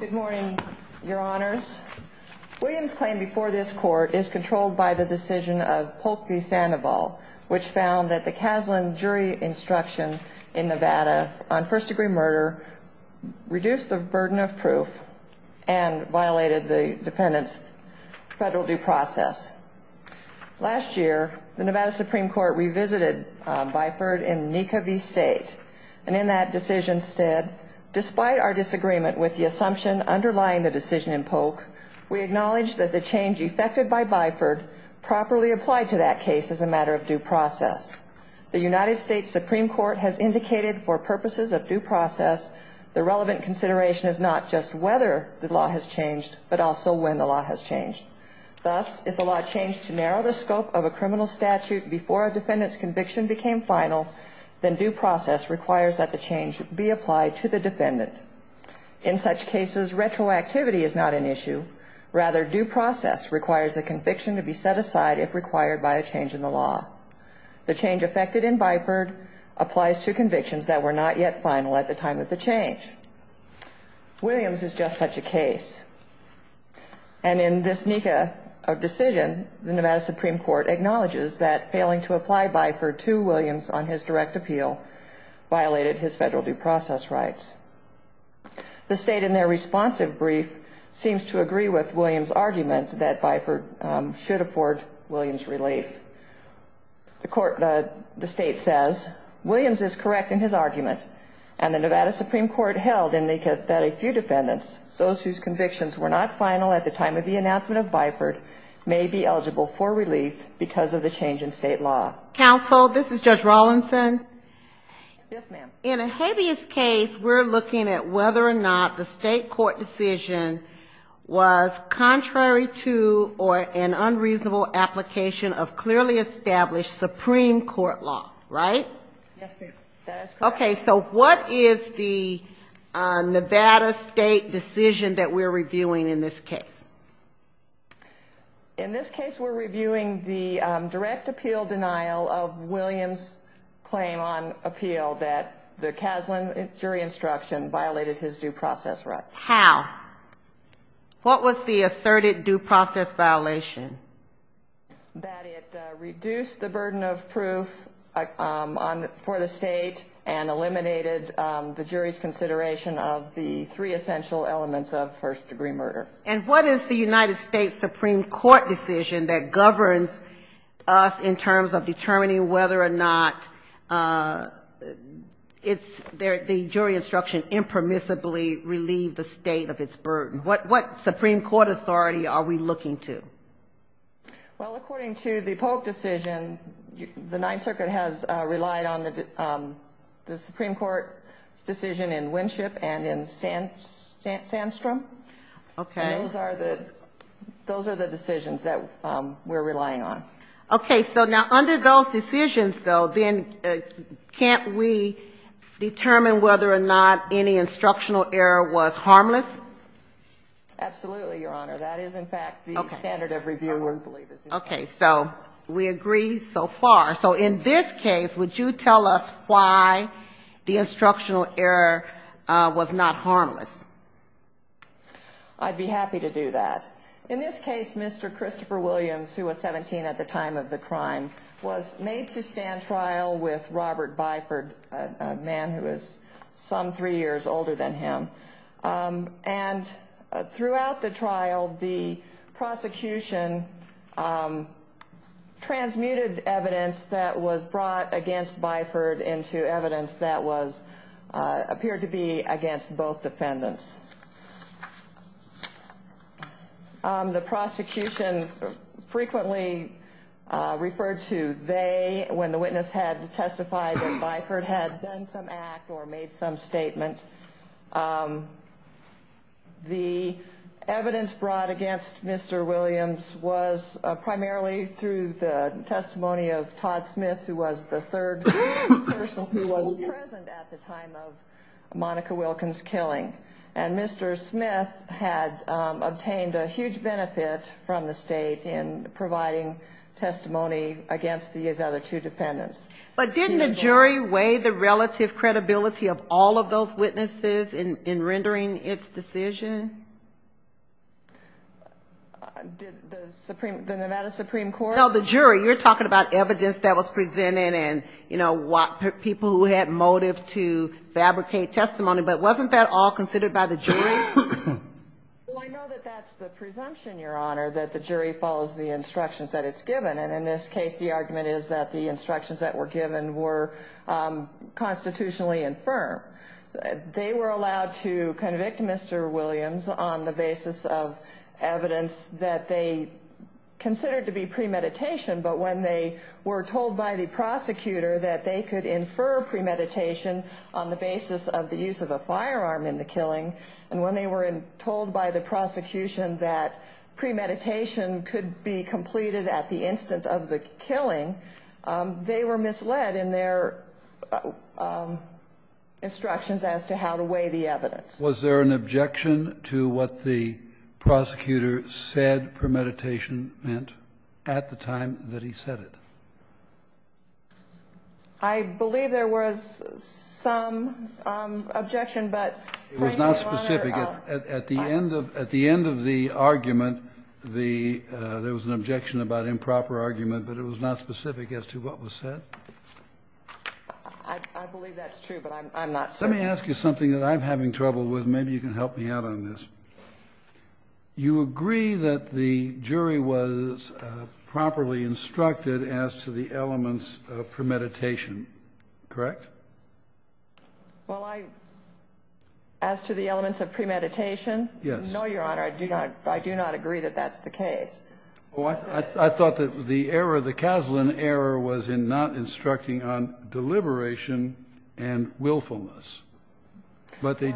Good morning, your honors. Williams' claim before this court is controlled by the decision of Polk v. Sandoval, which found that the Kaslan jury instruction in Nevada on first-degree murder reduced the burden of proof and violated the defendant's federal due process. Last year, the Nevada Supreme Court revisited Byford v. State, and in that decision, said, Despite our disagreement with the assumption underlying the decision in Polk, we acknowledge that the change effected by Byford properly applied to that case as a matter of due process. The United States Supreme Court has indicated for purposes of due process, the relevant consideration is not just whether the law has changed, but also when the law has changed. Thus, if the law changed to narrow the scope of a criminal statute before a defendant's conviction became final, then due process requires that the change be applied to the defendant. In such cases, retroactivity is not an issue. Rather, due process requires the conviction to be set aside if required by a change in the law. The change effected in Byford applies to convictions that were not yet final at the time of the change. Williams is just such a case. And in this NECA decision, the Nevada Supreme Court acknowledges that failing to apply Byford to Williams on his direct appeal violated his federal due process rights. The state, in their responsive brief, seems to agree with Williams' argument that Byford should afford Williams relief. The state says, Williams is correct in his argument, and the Nevada Supreme Court held in the NECA that a few defendants, those whose convictions were not final at the time of the announcement of Byford, may be eligible for relief because of the change in state law. Counsel, this is Judge Rawlinson. Yes, ma'am. In Ahabia's case, we're looking at whether or not the state court decision was contrary to or an unreasonable application of clearly established Supreme Court law, right? Yes, ma'am. That is correct. Okay. So what is the Nevada state decision that we're reviewing in this case? In this case, we're reviewing the direct appeal denial of Williams' claim on appeal that the Kaslan jury instruction violated his due process rights. How? What was the asserted due process violation? That it reduced the burden of proof for the state and eliminated the jury's consideration of the three essential elements of first-degree murder. And what is the United States Supreme Court decision that governs us in terms of determining whether or not the jury instruction impermissibly relieved the state of its burden? What Supreme Court authority are we looking to? Well, according to the Polk decision, the Ninth Circuit has relied on the Supreme Court's decision in Winship and in Sandstrom. Okay. And those are the decisions that we're relying on. Okay. So now under those decisions, though, then can't we determine whether or not any instructional error was harmless? Absolutely, Your Honor. That is, in fact, the standard of review. Okay. So we agree so far. So in this case, would you tell us why the instructional error was not harmless? I'd be happy to do that. In this case, Mr. Christopher Williams, who was 17 at the time of the crime, was made to stand trial with Robert Byford, a man who was some three years older than him. And throughout the trial, the prosecution transmuted evidence that was brought against Byford into evidence that appeared to be against both defendants. The prosecution frequently referred to they when the witness had testified that Byford had done some act or made some statement. The evidence brought against Mr. Williams was primarily through the testimony of Todd Smith, who was the third person who was present at the time of Monica Wilkins' killing. And Mr. Smith had obtained a huge benefit from the State in providing testimony against these other two defendants. But didn't the jury weigh the relative credibility of all of those witnesses in rendering its decision? The Nevada Supreme Court? No, the jury. You're talking about evidence that was presented and, you know, people who had motive to fabricate testimony. But wasn't that all considered by the jury? Well, I know that that's the presumption, Your Honor, that the jury follows the instructions that it's given. And in this case, the argument is that the instructions that were given were constitutionally infirm. They were allowed to convict Mr. Williams on the basis of evidence that they considered to be premeditation. But when they were told by the prosecutor that they could infer premeditation on the basis of the use of a firearm in the killing, and when they were told by the prosecution that premeditation could be completed at the instant of the killing, they were misled in their instructions as to how to weigh the evidence. Was there an objection to what the prosecutor said premeditation meant at the time that he said it? I believe there was some objection, but, Your Honor. It was not specific. At the end of the argument, there was an objection about improper argument, but it was not specific as to what was said. I believe that's true, but I'm not certain. Let me ask you something that I'm having trouble with. Maybe you can help me out on this. You agree that the jury was properly instructed as to the elements of premeditation, correct? Well, as to the elements of premeditation? Yes. No, Your Honor. I do not agree that that's the case. I thought that the error, the Kaslan error, was in not instructing on deliberation and willfulness. But they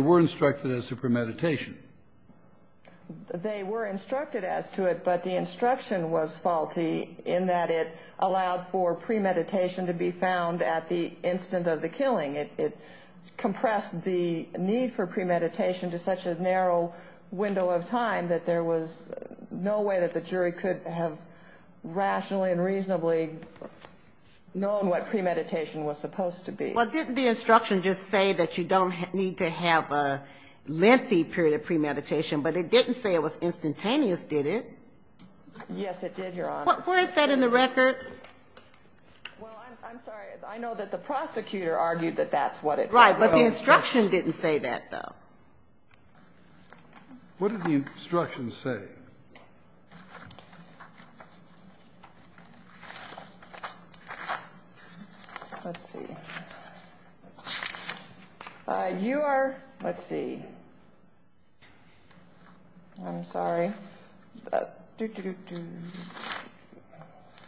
were instructed as to premeditation. They were instructed as to it, but the instruction was faulty in that it allowed for premeditation to be found at the instant of the killing. It compressed the need for premeditation to such a narrow window of time that there was no way that the jury could have rationally and reasonably known what premeditation was supposed to be. Well, didn't the instruction just say that you don't need to have a lengthy period of premeditation? But it didn't say it was instantaneous, did it? Yes, it did, Your Honor. Where is that in the record? Well, I'm sorry. I know that the prosecutor argued that that's what it was. Right, but the instruction didn't say that, though. What did the instruction say? Let's see. You are, let's see. I'm sorry.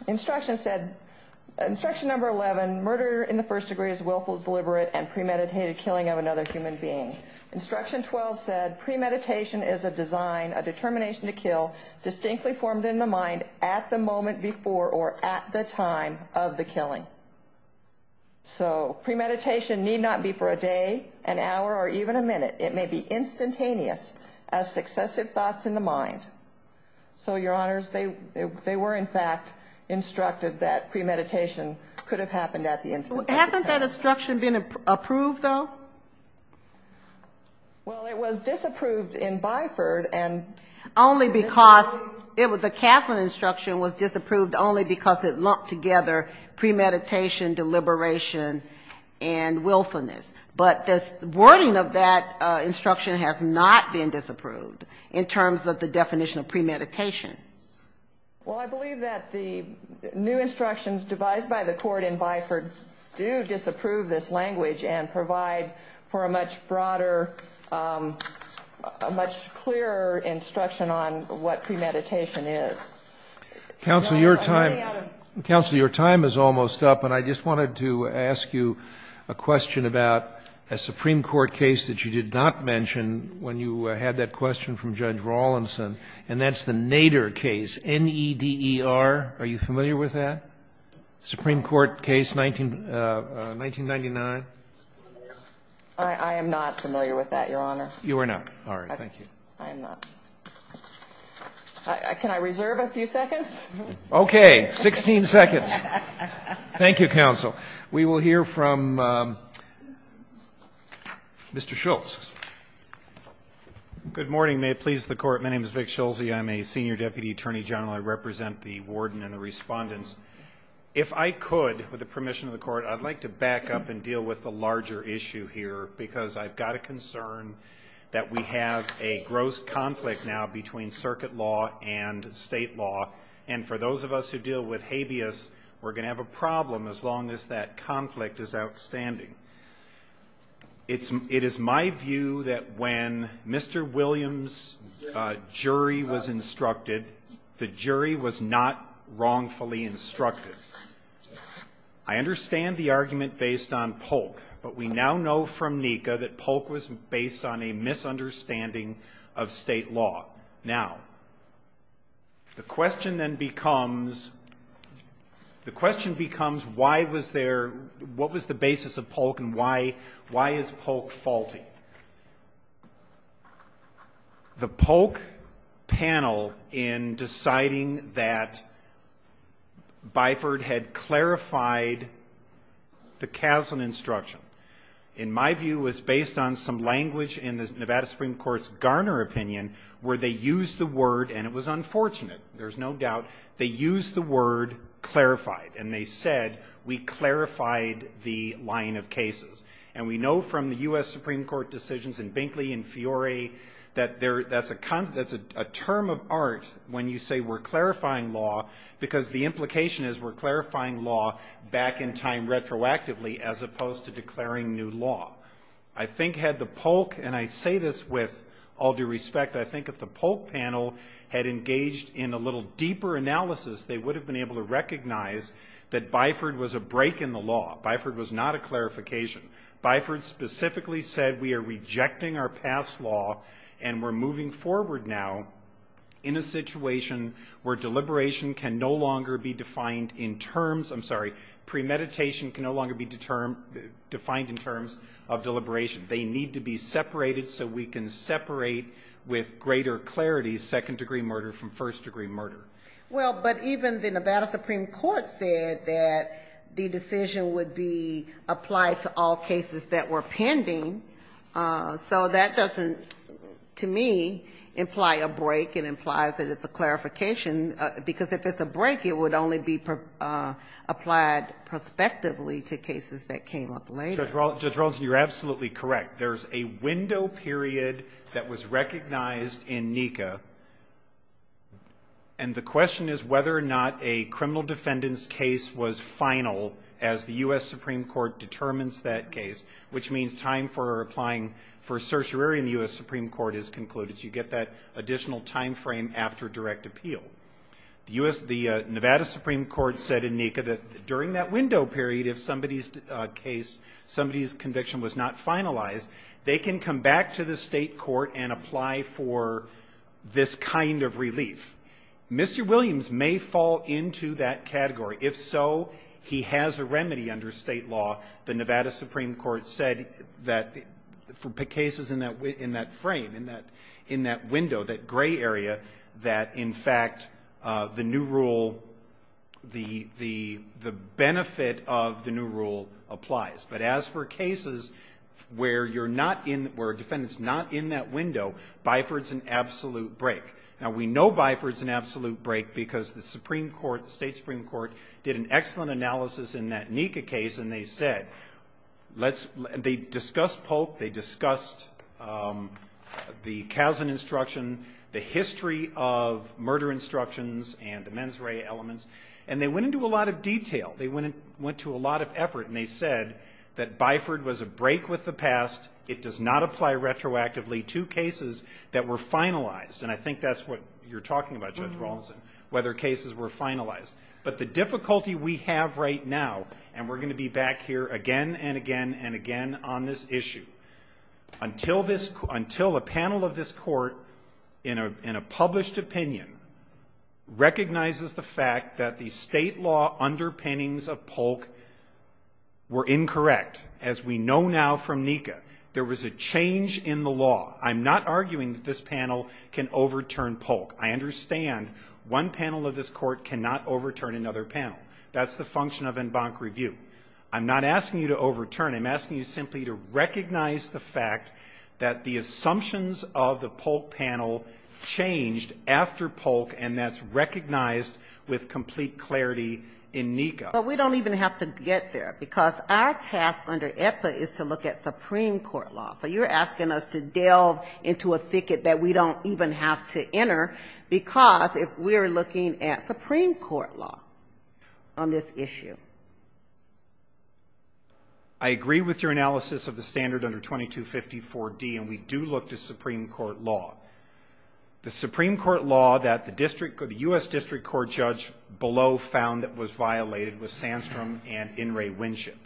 Instruction said, instruction number 11, murder in the first degree is willful, deliberate, and premeditated killing of another human being. Instruction 12 said premeditation is a design, a determination to kill distinctly formed in the mind at the moment before or at the time of the killing. So premeditation need not be for a day, an hour, or even a minute. It may be instantaneous as successive thoughts in the mind. So, Your Honors, they were, in fact, instructed that premeditation could have happened at the instant of the killing. Hasn't that instruction been approved, though? Well, it was disapproved in Byford. Only because it was, the Castlin instruction was disapproved only because it lumped together premeditation, deliberation, and willfulness. But the wording of that instruction has not been disapproved in terms of the definition of premeditation. Well, I believe that the new instructions devised by the court in Byford do disapprove this language and provide for a much broader, a much clearer instruction on what premeditation is. Counsel, your time is almost up, and I just wanted to ask you a question about a Supreme Court case that you did not mention when you had that And that's the Nader case, N-E-D-E-R. Are you familiar with that? Supreme Court case 1999. I am not familiar with that, Your Honor. You are not. All right. Thank you. I am not. Can I reserve a few seconds? Okay. 16 seconds. Thank you, Counsel. We will hear from Mr. Schultz. Good morning. May it please the Court. My name is Vic Schultz. I am a senior deputy attorney general. I represent the warden and the respondents. If I could, with the permission of the Court, I would like to back up and deal with the larger issue here because I have got a concern that we have a gross conflict now between circuit law and state law. And for those of us who deal with habeas, we are going to have a problem as long as that conflict is outstanding. It is my view that when Mr. Williams' jury was instructed, the jury was not wrongfully instructed. I understand the argument based on Polk, but we now know from NICA that Polk was based on a misunderstanding of state law. Now, the question then becomes, the question becomes why was there, what was the basis of Polk and why is Polk faulty? The Polk panel in deciding that Byford had clarified the Kaslan instruction, in my view, was based on some language in the Nevada Supreme Court's Garner opinion where they used the word, and it was unfortunate, there's no doubt, they used the word clarified. And they said, we clarified the line of cases. And we know from the U.S. Supreme Court decisions in Binkley and Fiore that there, that's a term of art when you say we're clarifying law because the implication is we're clarifying law back in time retroactively as opposed to declaring new law. I think had the Polk, and I say this with all due respect, I think if the Polk panel had engaged in a little deeper analysis, they would have been able to recognize that Byford was a break in the law. Byford was not a clarification. Byford specifically said we are rejecting our past law and we're moving forward now in a situation where deliberation can no longer be defined in terms of deliberation. They need to be separated so we can separate with greater clarity second-degree murder from first-degree murder. Well, but even the Nevada Supreme Court said that the decision would be applied to all cases that were pending. So that doesn't, to me, imply a break. It implies that it's a clarification because if it's a break, it would only be applied prospectively to cases that came up later. Judge Rawlinson, you're absolutely correct. There's a window period that was recognized in NECA. And the question is whether or not a criminal defendant's case was final as the U.S. Supreme Court determines that case, which means time for applying for a certiorari in the U.S. Supreme Court is concluded. So you get that additional time frame after direct appeal. The Nevada Supreme Court said in NECA that during that window period, if somebody's case, somebody's conviction was not finalized, they can come back to the state court and apply for this kind of relief. Mr. Williams may fall into that category. If so, he has a remedy under state law. The Nevada Supreme Court said that for cases in that frame, in that window, that gray area, that in fact the new rule, the benefit of the new rule applies. But as for cases where you're not in, where a defendant's not in that window, BIFRD's an absolute break. Now, we know BIFRD's an absolute break because the Supreme Court, the state Supreme Court, did an excellent analysis in that NECA case, and they said, they discussed Polk, they discussed the Kazan instruction, the history of murder instructions and the mens rea elements, and they went into a lot of detail. They went into a lot of effort, and they said that BIFRD was a break with the past. It does not apply retroactively to cases that were finalized. And I think that's what you're talking about, Judge Rawlinson, whether cases were finalized. But the difficulty we have right now, and we're going to be back here again and again and again on this issue, until a panel of this court in a published opinion recognizes the fact that the state law underpinnings of Polk were incorrect, as we know now from NECA, there was a change in the law. I'm not arguing that this panel can overturn Polk. I understand one panel of this court cannot overturn another panel. That's the function of en banc review. I'm not asking you to overturn. I'm asking you simply to recognize the fact that the assumptions of the Polk panel changed after Polk, and that's recognized with complete clarity in NECA. But we don't even have to get there, because our task under EPA is to look at Supreme Court law. So you're asking us to delve into a thicket that we don't even have to enter, because we're looking at Supreme Court law on this issue. I agree with your analysis of the standard under 2254D, and we do look to Supreme Court law. The Supreme Court law that the U.S. District Court judge below found that was violated was Sandstrom and In re Winship.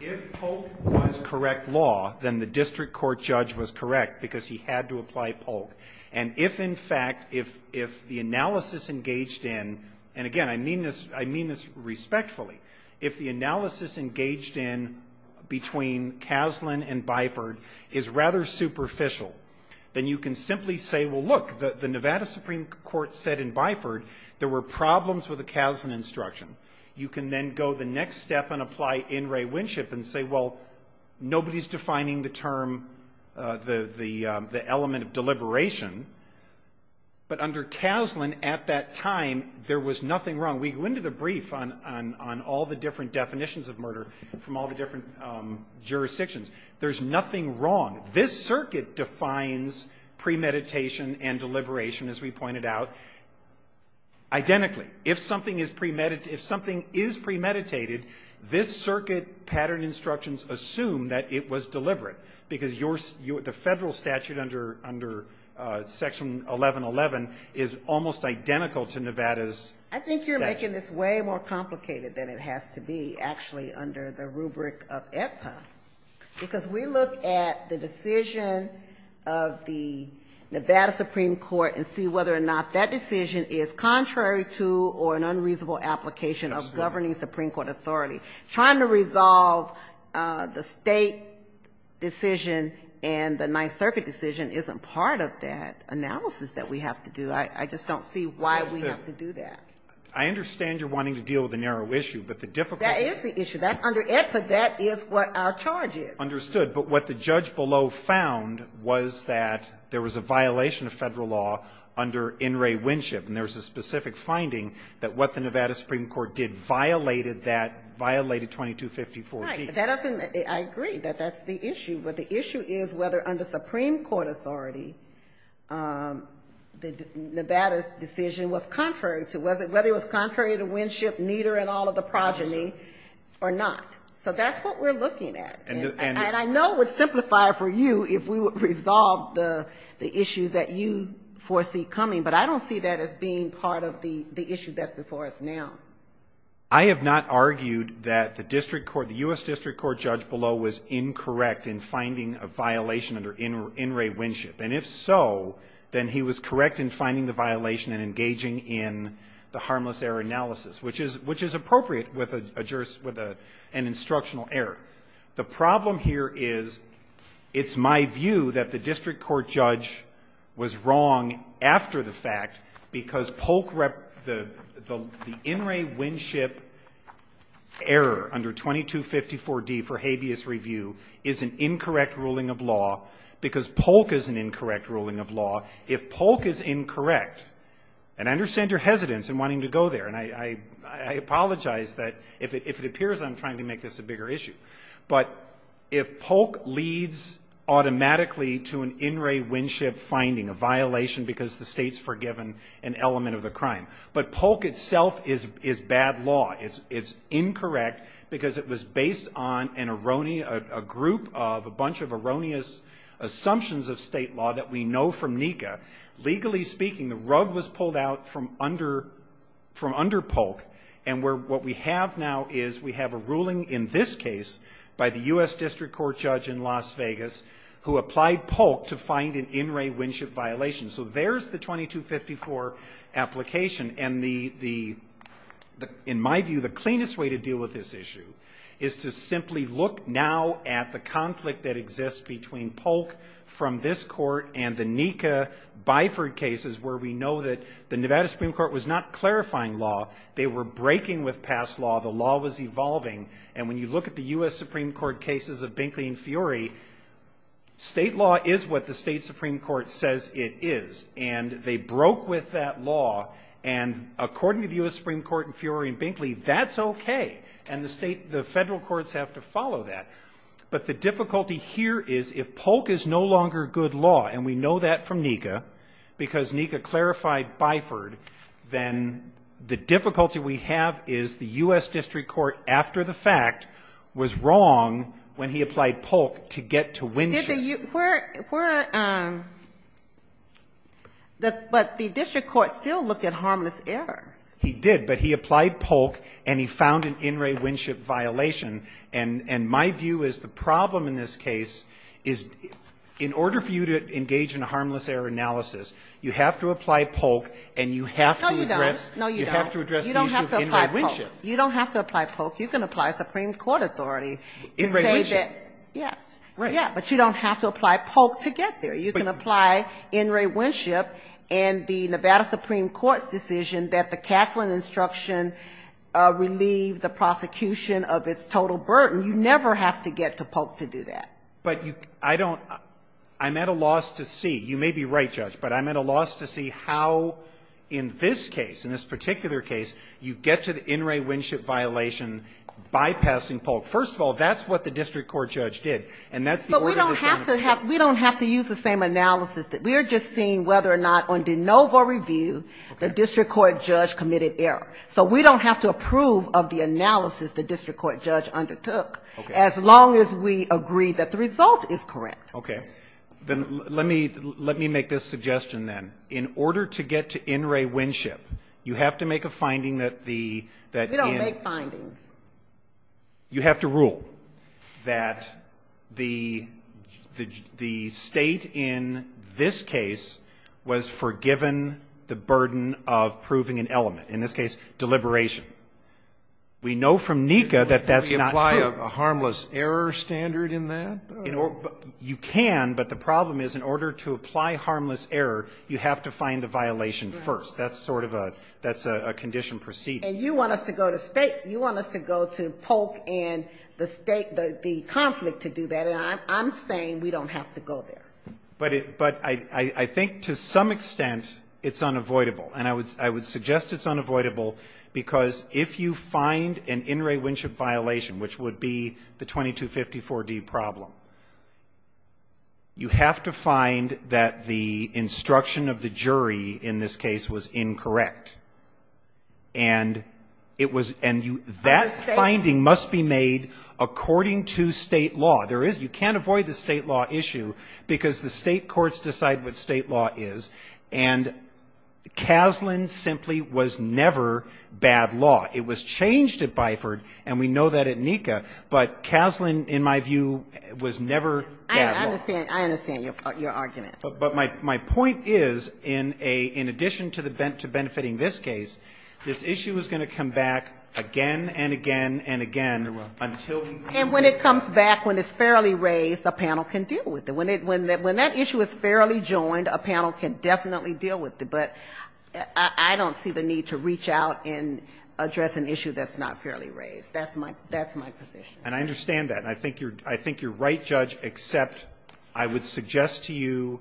If Polk was correct law, then the District Court judge was correct, because he had to apply Polk. And if, in fact, if the analysis engaged in, and, again, I mean this respectfully, if the analysis engaged in between Kaslan and Byford is rather superficial, then you can simply say, well, look, the Nevada Supreme Court said in Byford there were problems with the Kaslan instruction. You can then go the next step and apply In re Winship and say, well, nobody's defining the term, the element of deliberation, but under Kaslan at that time there was nothing wrong. We go into the brief on all the different definitions of murder from all the different jurisdictions. There's nothing wrong. This circuit defines premeditation and deliberation, as we pointed out, identically. If something is premeditated, this circuit pattern instructions assume that it was deliberate, because the Federal statute under Section 1111 is almost identical to Nevada's statute. I think you're making this way more complicated than it has to be, actually, under the rubric of AEPA, because we look at the decision of the Nevada Supreme Court and see whether or not that decision is contrary to or an unreasonable application of governing Supreme Court authority. Trying to resolve the State decision and the Ninth Circuit decision isn't part of that analysis that we have to do. I just don't see why we have to do that. I understand you're wanting to deal with a narrow issue, but the difficulty That is the issue. Under AEPA, that is what our charge is. Understood. But what the judge below found was that there was a violation of Federal law under In re Winship. And there was a specific finding that what the Nevada Supreme Court did violated that, violated 2254-D. Right. That doesn't — I agree that that's the issue. But the issue is whether under Supreme Court authority, the Nevada decision was contrary to — whether it was contrary to Winship, Nieder, and all of the progeny or not. So that's what we're looking at. And I know it would simplify for you if we would resolve the issue that you foresee coming, but I don't see that as being part of the issue that's before us now. I have not argued that the district court, the U.S. district court judge below was incorrect in finding a violation under In re Winship. And if so, then he was correct in finding the violation and engaging in the harmless error analysis, which is appropriate with an instructional error. The problem here is it's my view that the district court judge was wrong after the fact because Polk — the In re Winship error under 2254-D for habeas review is an incorrect ruling of law because Polk is an incorrect ruling of law. If Polk is incorrect — and I understand your hesitance in wanting to go there, and I apologize that if it appears I'm trying to make this a bigger issue. But if Polk leads automatically to an In re Winship finding, a violation because the State's forgiven an element of the crime. But Polk itself is bad law. It's incorrect because it was based on an erroneous — a group of a bunch of erroneous assumptions of State law that we know from NECA. Legally speaking, the rug was pulled out from under — from under Polk. And we're — what we have now is we have a ruling in this case by the U.S. District Court judge in Las Vegas who applied Polk to find an In re Winship violation. So there's the 2254 application. And the — in my view, the cleanest way to deal with this issue is to simply look now at the conflict that exists between Polk from this court and the NECA-Biford cases where we know that the Nevada Supreme Court was not clarifying law. They were breaking with past law. The law was evolving. And when you look at the U.S. Supreme Court cases of Binkley and Fiore, State law is what the State Supreme Court says it is. And they broke with that law. And according to the U.S. Supreme Court in Fiore and Binkley, that's okay. And the State — the federal courts have to follow that. But the difficulty here is if Polk is no longer good law, and we know that from NECA because NECA clarified Biford, then the difficulty we have is the U.S. District Court, after the fact, was wrong when he applied Polk to get to Winship. Did the — were — were — but the district court still looked at harmless error. He did. But he applied Polk, and he found an In re Winship violation. And my view is the problem in this case is in order for you to engage in a harmless error analysis, you have to apply Polk, and you have to address — No, you don't. No, you don't. You have to address the issue of In re Winship. You don't have to apply Polk. You don't have to apply Polk. You can apply Supreme Court authority to say that — In re Winship. Yes. Right. Yes. But you don't have to apply Polk to get there. You can apply In re Winship and the Nevada Supreme Court's decision that the Castling instruction relieved the prosecution of its total burden. You never have to get to Polk to do that. But you — I don't — I'm at a loss to see. You may be right, Judge, but I'm at a loss to see how in this case, in this particular case, you get to the In re Winship violation bypassing Polk. First of all, that's what the district court judge did. And that's the — But we don't have to have — we don't have to use the same analysis. We're just seeing whether or not on de novo review the district court judge committed error. So we don't have to approve of the analysis the district court judge undertook as long as we agree that the result is correct. Okay. Then let me — let me make this suggestion, then. In order to get to In re Winship, you have to make a finding that the — We don't make findings. You have to rule that the — the State in this case was forgiven the burden of proving an element, in this case, deliberation. We know from NECA that that's not true. Can we apply a harmless error standard in that? You can, but the problem is in order to apply harmless error, you have to find the violation first. That's sort of a — that's a condition proceeding. And you want us to go to State? You want us to go to Polk and the State — the conflict to do that? And I'm saying we don't have to go there. But it — but I think to some extent it's unavoidable. And I would — I would suggest it's unavoidable because if you find an In re Winship violation, which would be the 2254D problem, you have to find that the instruction of the jury in this case was incorrect. And it was — and you — that finding must be made according to State law. There is — you can't avoid the State law issue because the State courts decide what State law is. And Kaslan simply was never bad law. It was changed at Byford, and we know that at NECA. But Kaslan, in my view, was never bad law. I understand. I understand your argument. But my — my point is in a — in addition to the — to benefiting this case, this issue is going to come back again and again and again until — And when it comes back, when it's fairly raised, a panel can deal with it. When it — when that issue is fairly joined, a panel can definitely deal with it. But I don't see the need to reach out and address an issue that's not fairly raised. That's my — that's my position. And I understand that. And I think you're — I think you're right, Judge, except I would suggest to you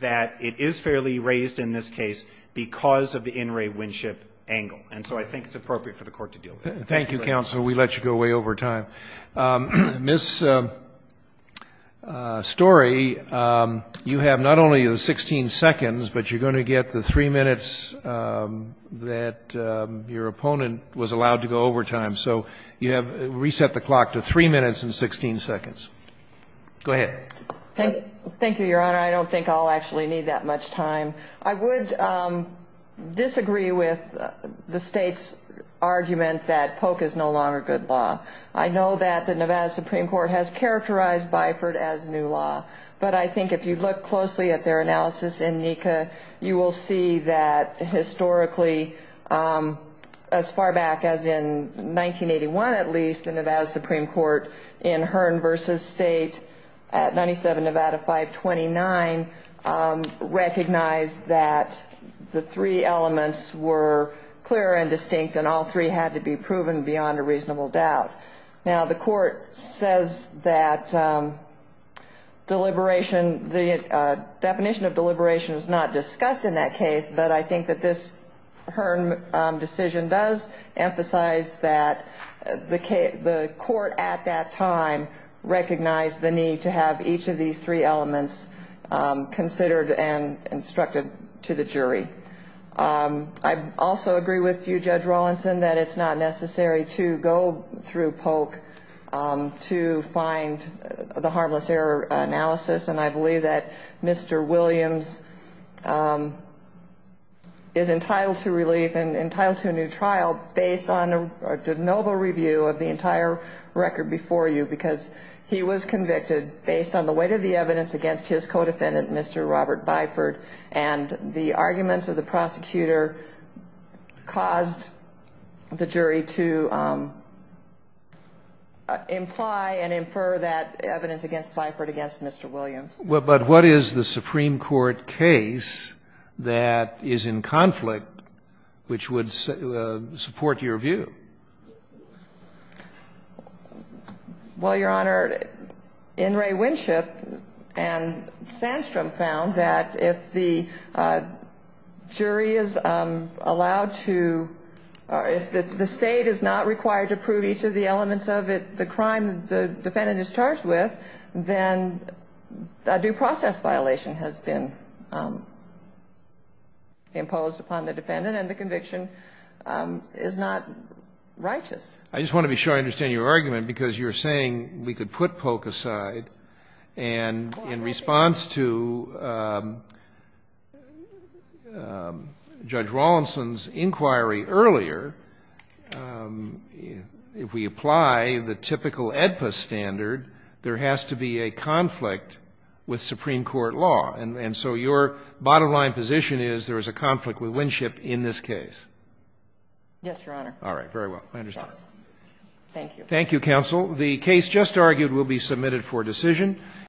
that it is fairly raised in this case because of the In re Winship angle. And so I think it's appropriate for the Court to deal with it. Thank you, counsel. We let you go way over time. Ms. Story, you have not only the 16 seconds, but you're going to get the 3 minutes that your opponent was allowed to go over time. So you have — reset the clock to 3 minutes and 16 seconds. Go ahead. Thank you, Your Honor. I don't think I'll actually need that much time. I would disagree with the State's argument that Polk is no longer good law. I know that the Nevada Supreme Court has characterized Byford as new law. But I think if you look closely at their analysis in NECA, you will see that historically, as far back as in 1981 at least, the Nevada Supreme Court in Hearn v. State at 97 Nevada 529 recognized that the three elements were clear and distinct, and all three had to be proven beyond a reasonable doubt. Now, the Court says that deliberation — the definition of deliberation was not discussed in that case, but I think that this Hearn decision does emphasize that the Court at that time recognized the need to have each of these three elements considered and instructed to the jury. I also agree with you, Judge Rawlinson, that it's not necessary to go through Polk to find the harmless error analysis. And I believe that Mr. Williams is entitled to relief and entitled to a new trial based on the noble review of the entire record before you, because he was convicted based on the weight of the evidence against his co-defendant, Mr. Robert Byford, and the arguments of the prosecutor caused the jury to imply and infer that evidence against Byford against Mr. Williams. But what is the Supreme Court case that is in conflict which would support your view? Well, Your Honor, In re Winship and Sandstrom found that if the jury is allowed to — if the State is not required to prove each of the elements of the crime the defendant is charged with, then a due process violation has been imposed upon the defendant, and the conviction is not righteous. I just want to be sure I understand your argument, because you're saying we could put Polk aside and in response to Judge Rawlinson's inquiry earlier, if we apply the typical AEDPA standard, there has to be a conflict with Supreme Court law. And so your bottom line position is there is a conflict with Winship in this case? Yes, Your Honor. All right. Very well. I understand. Thank you. Thank you, counsel. The case just argued will be submitted for decision.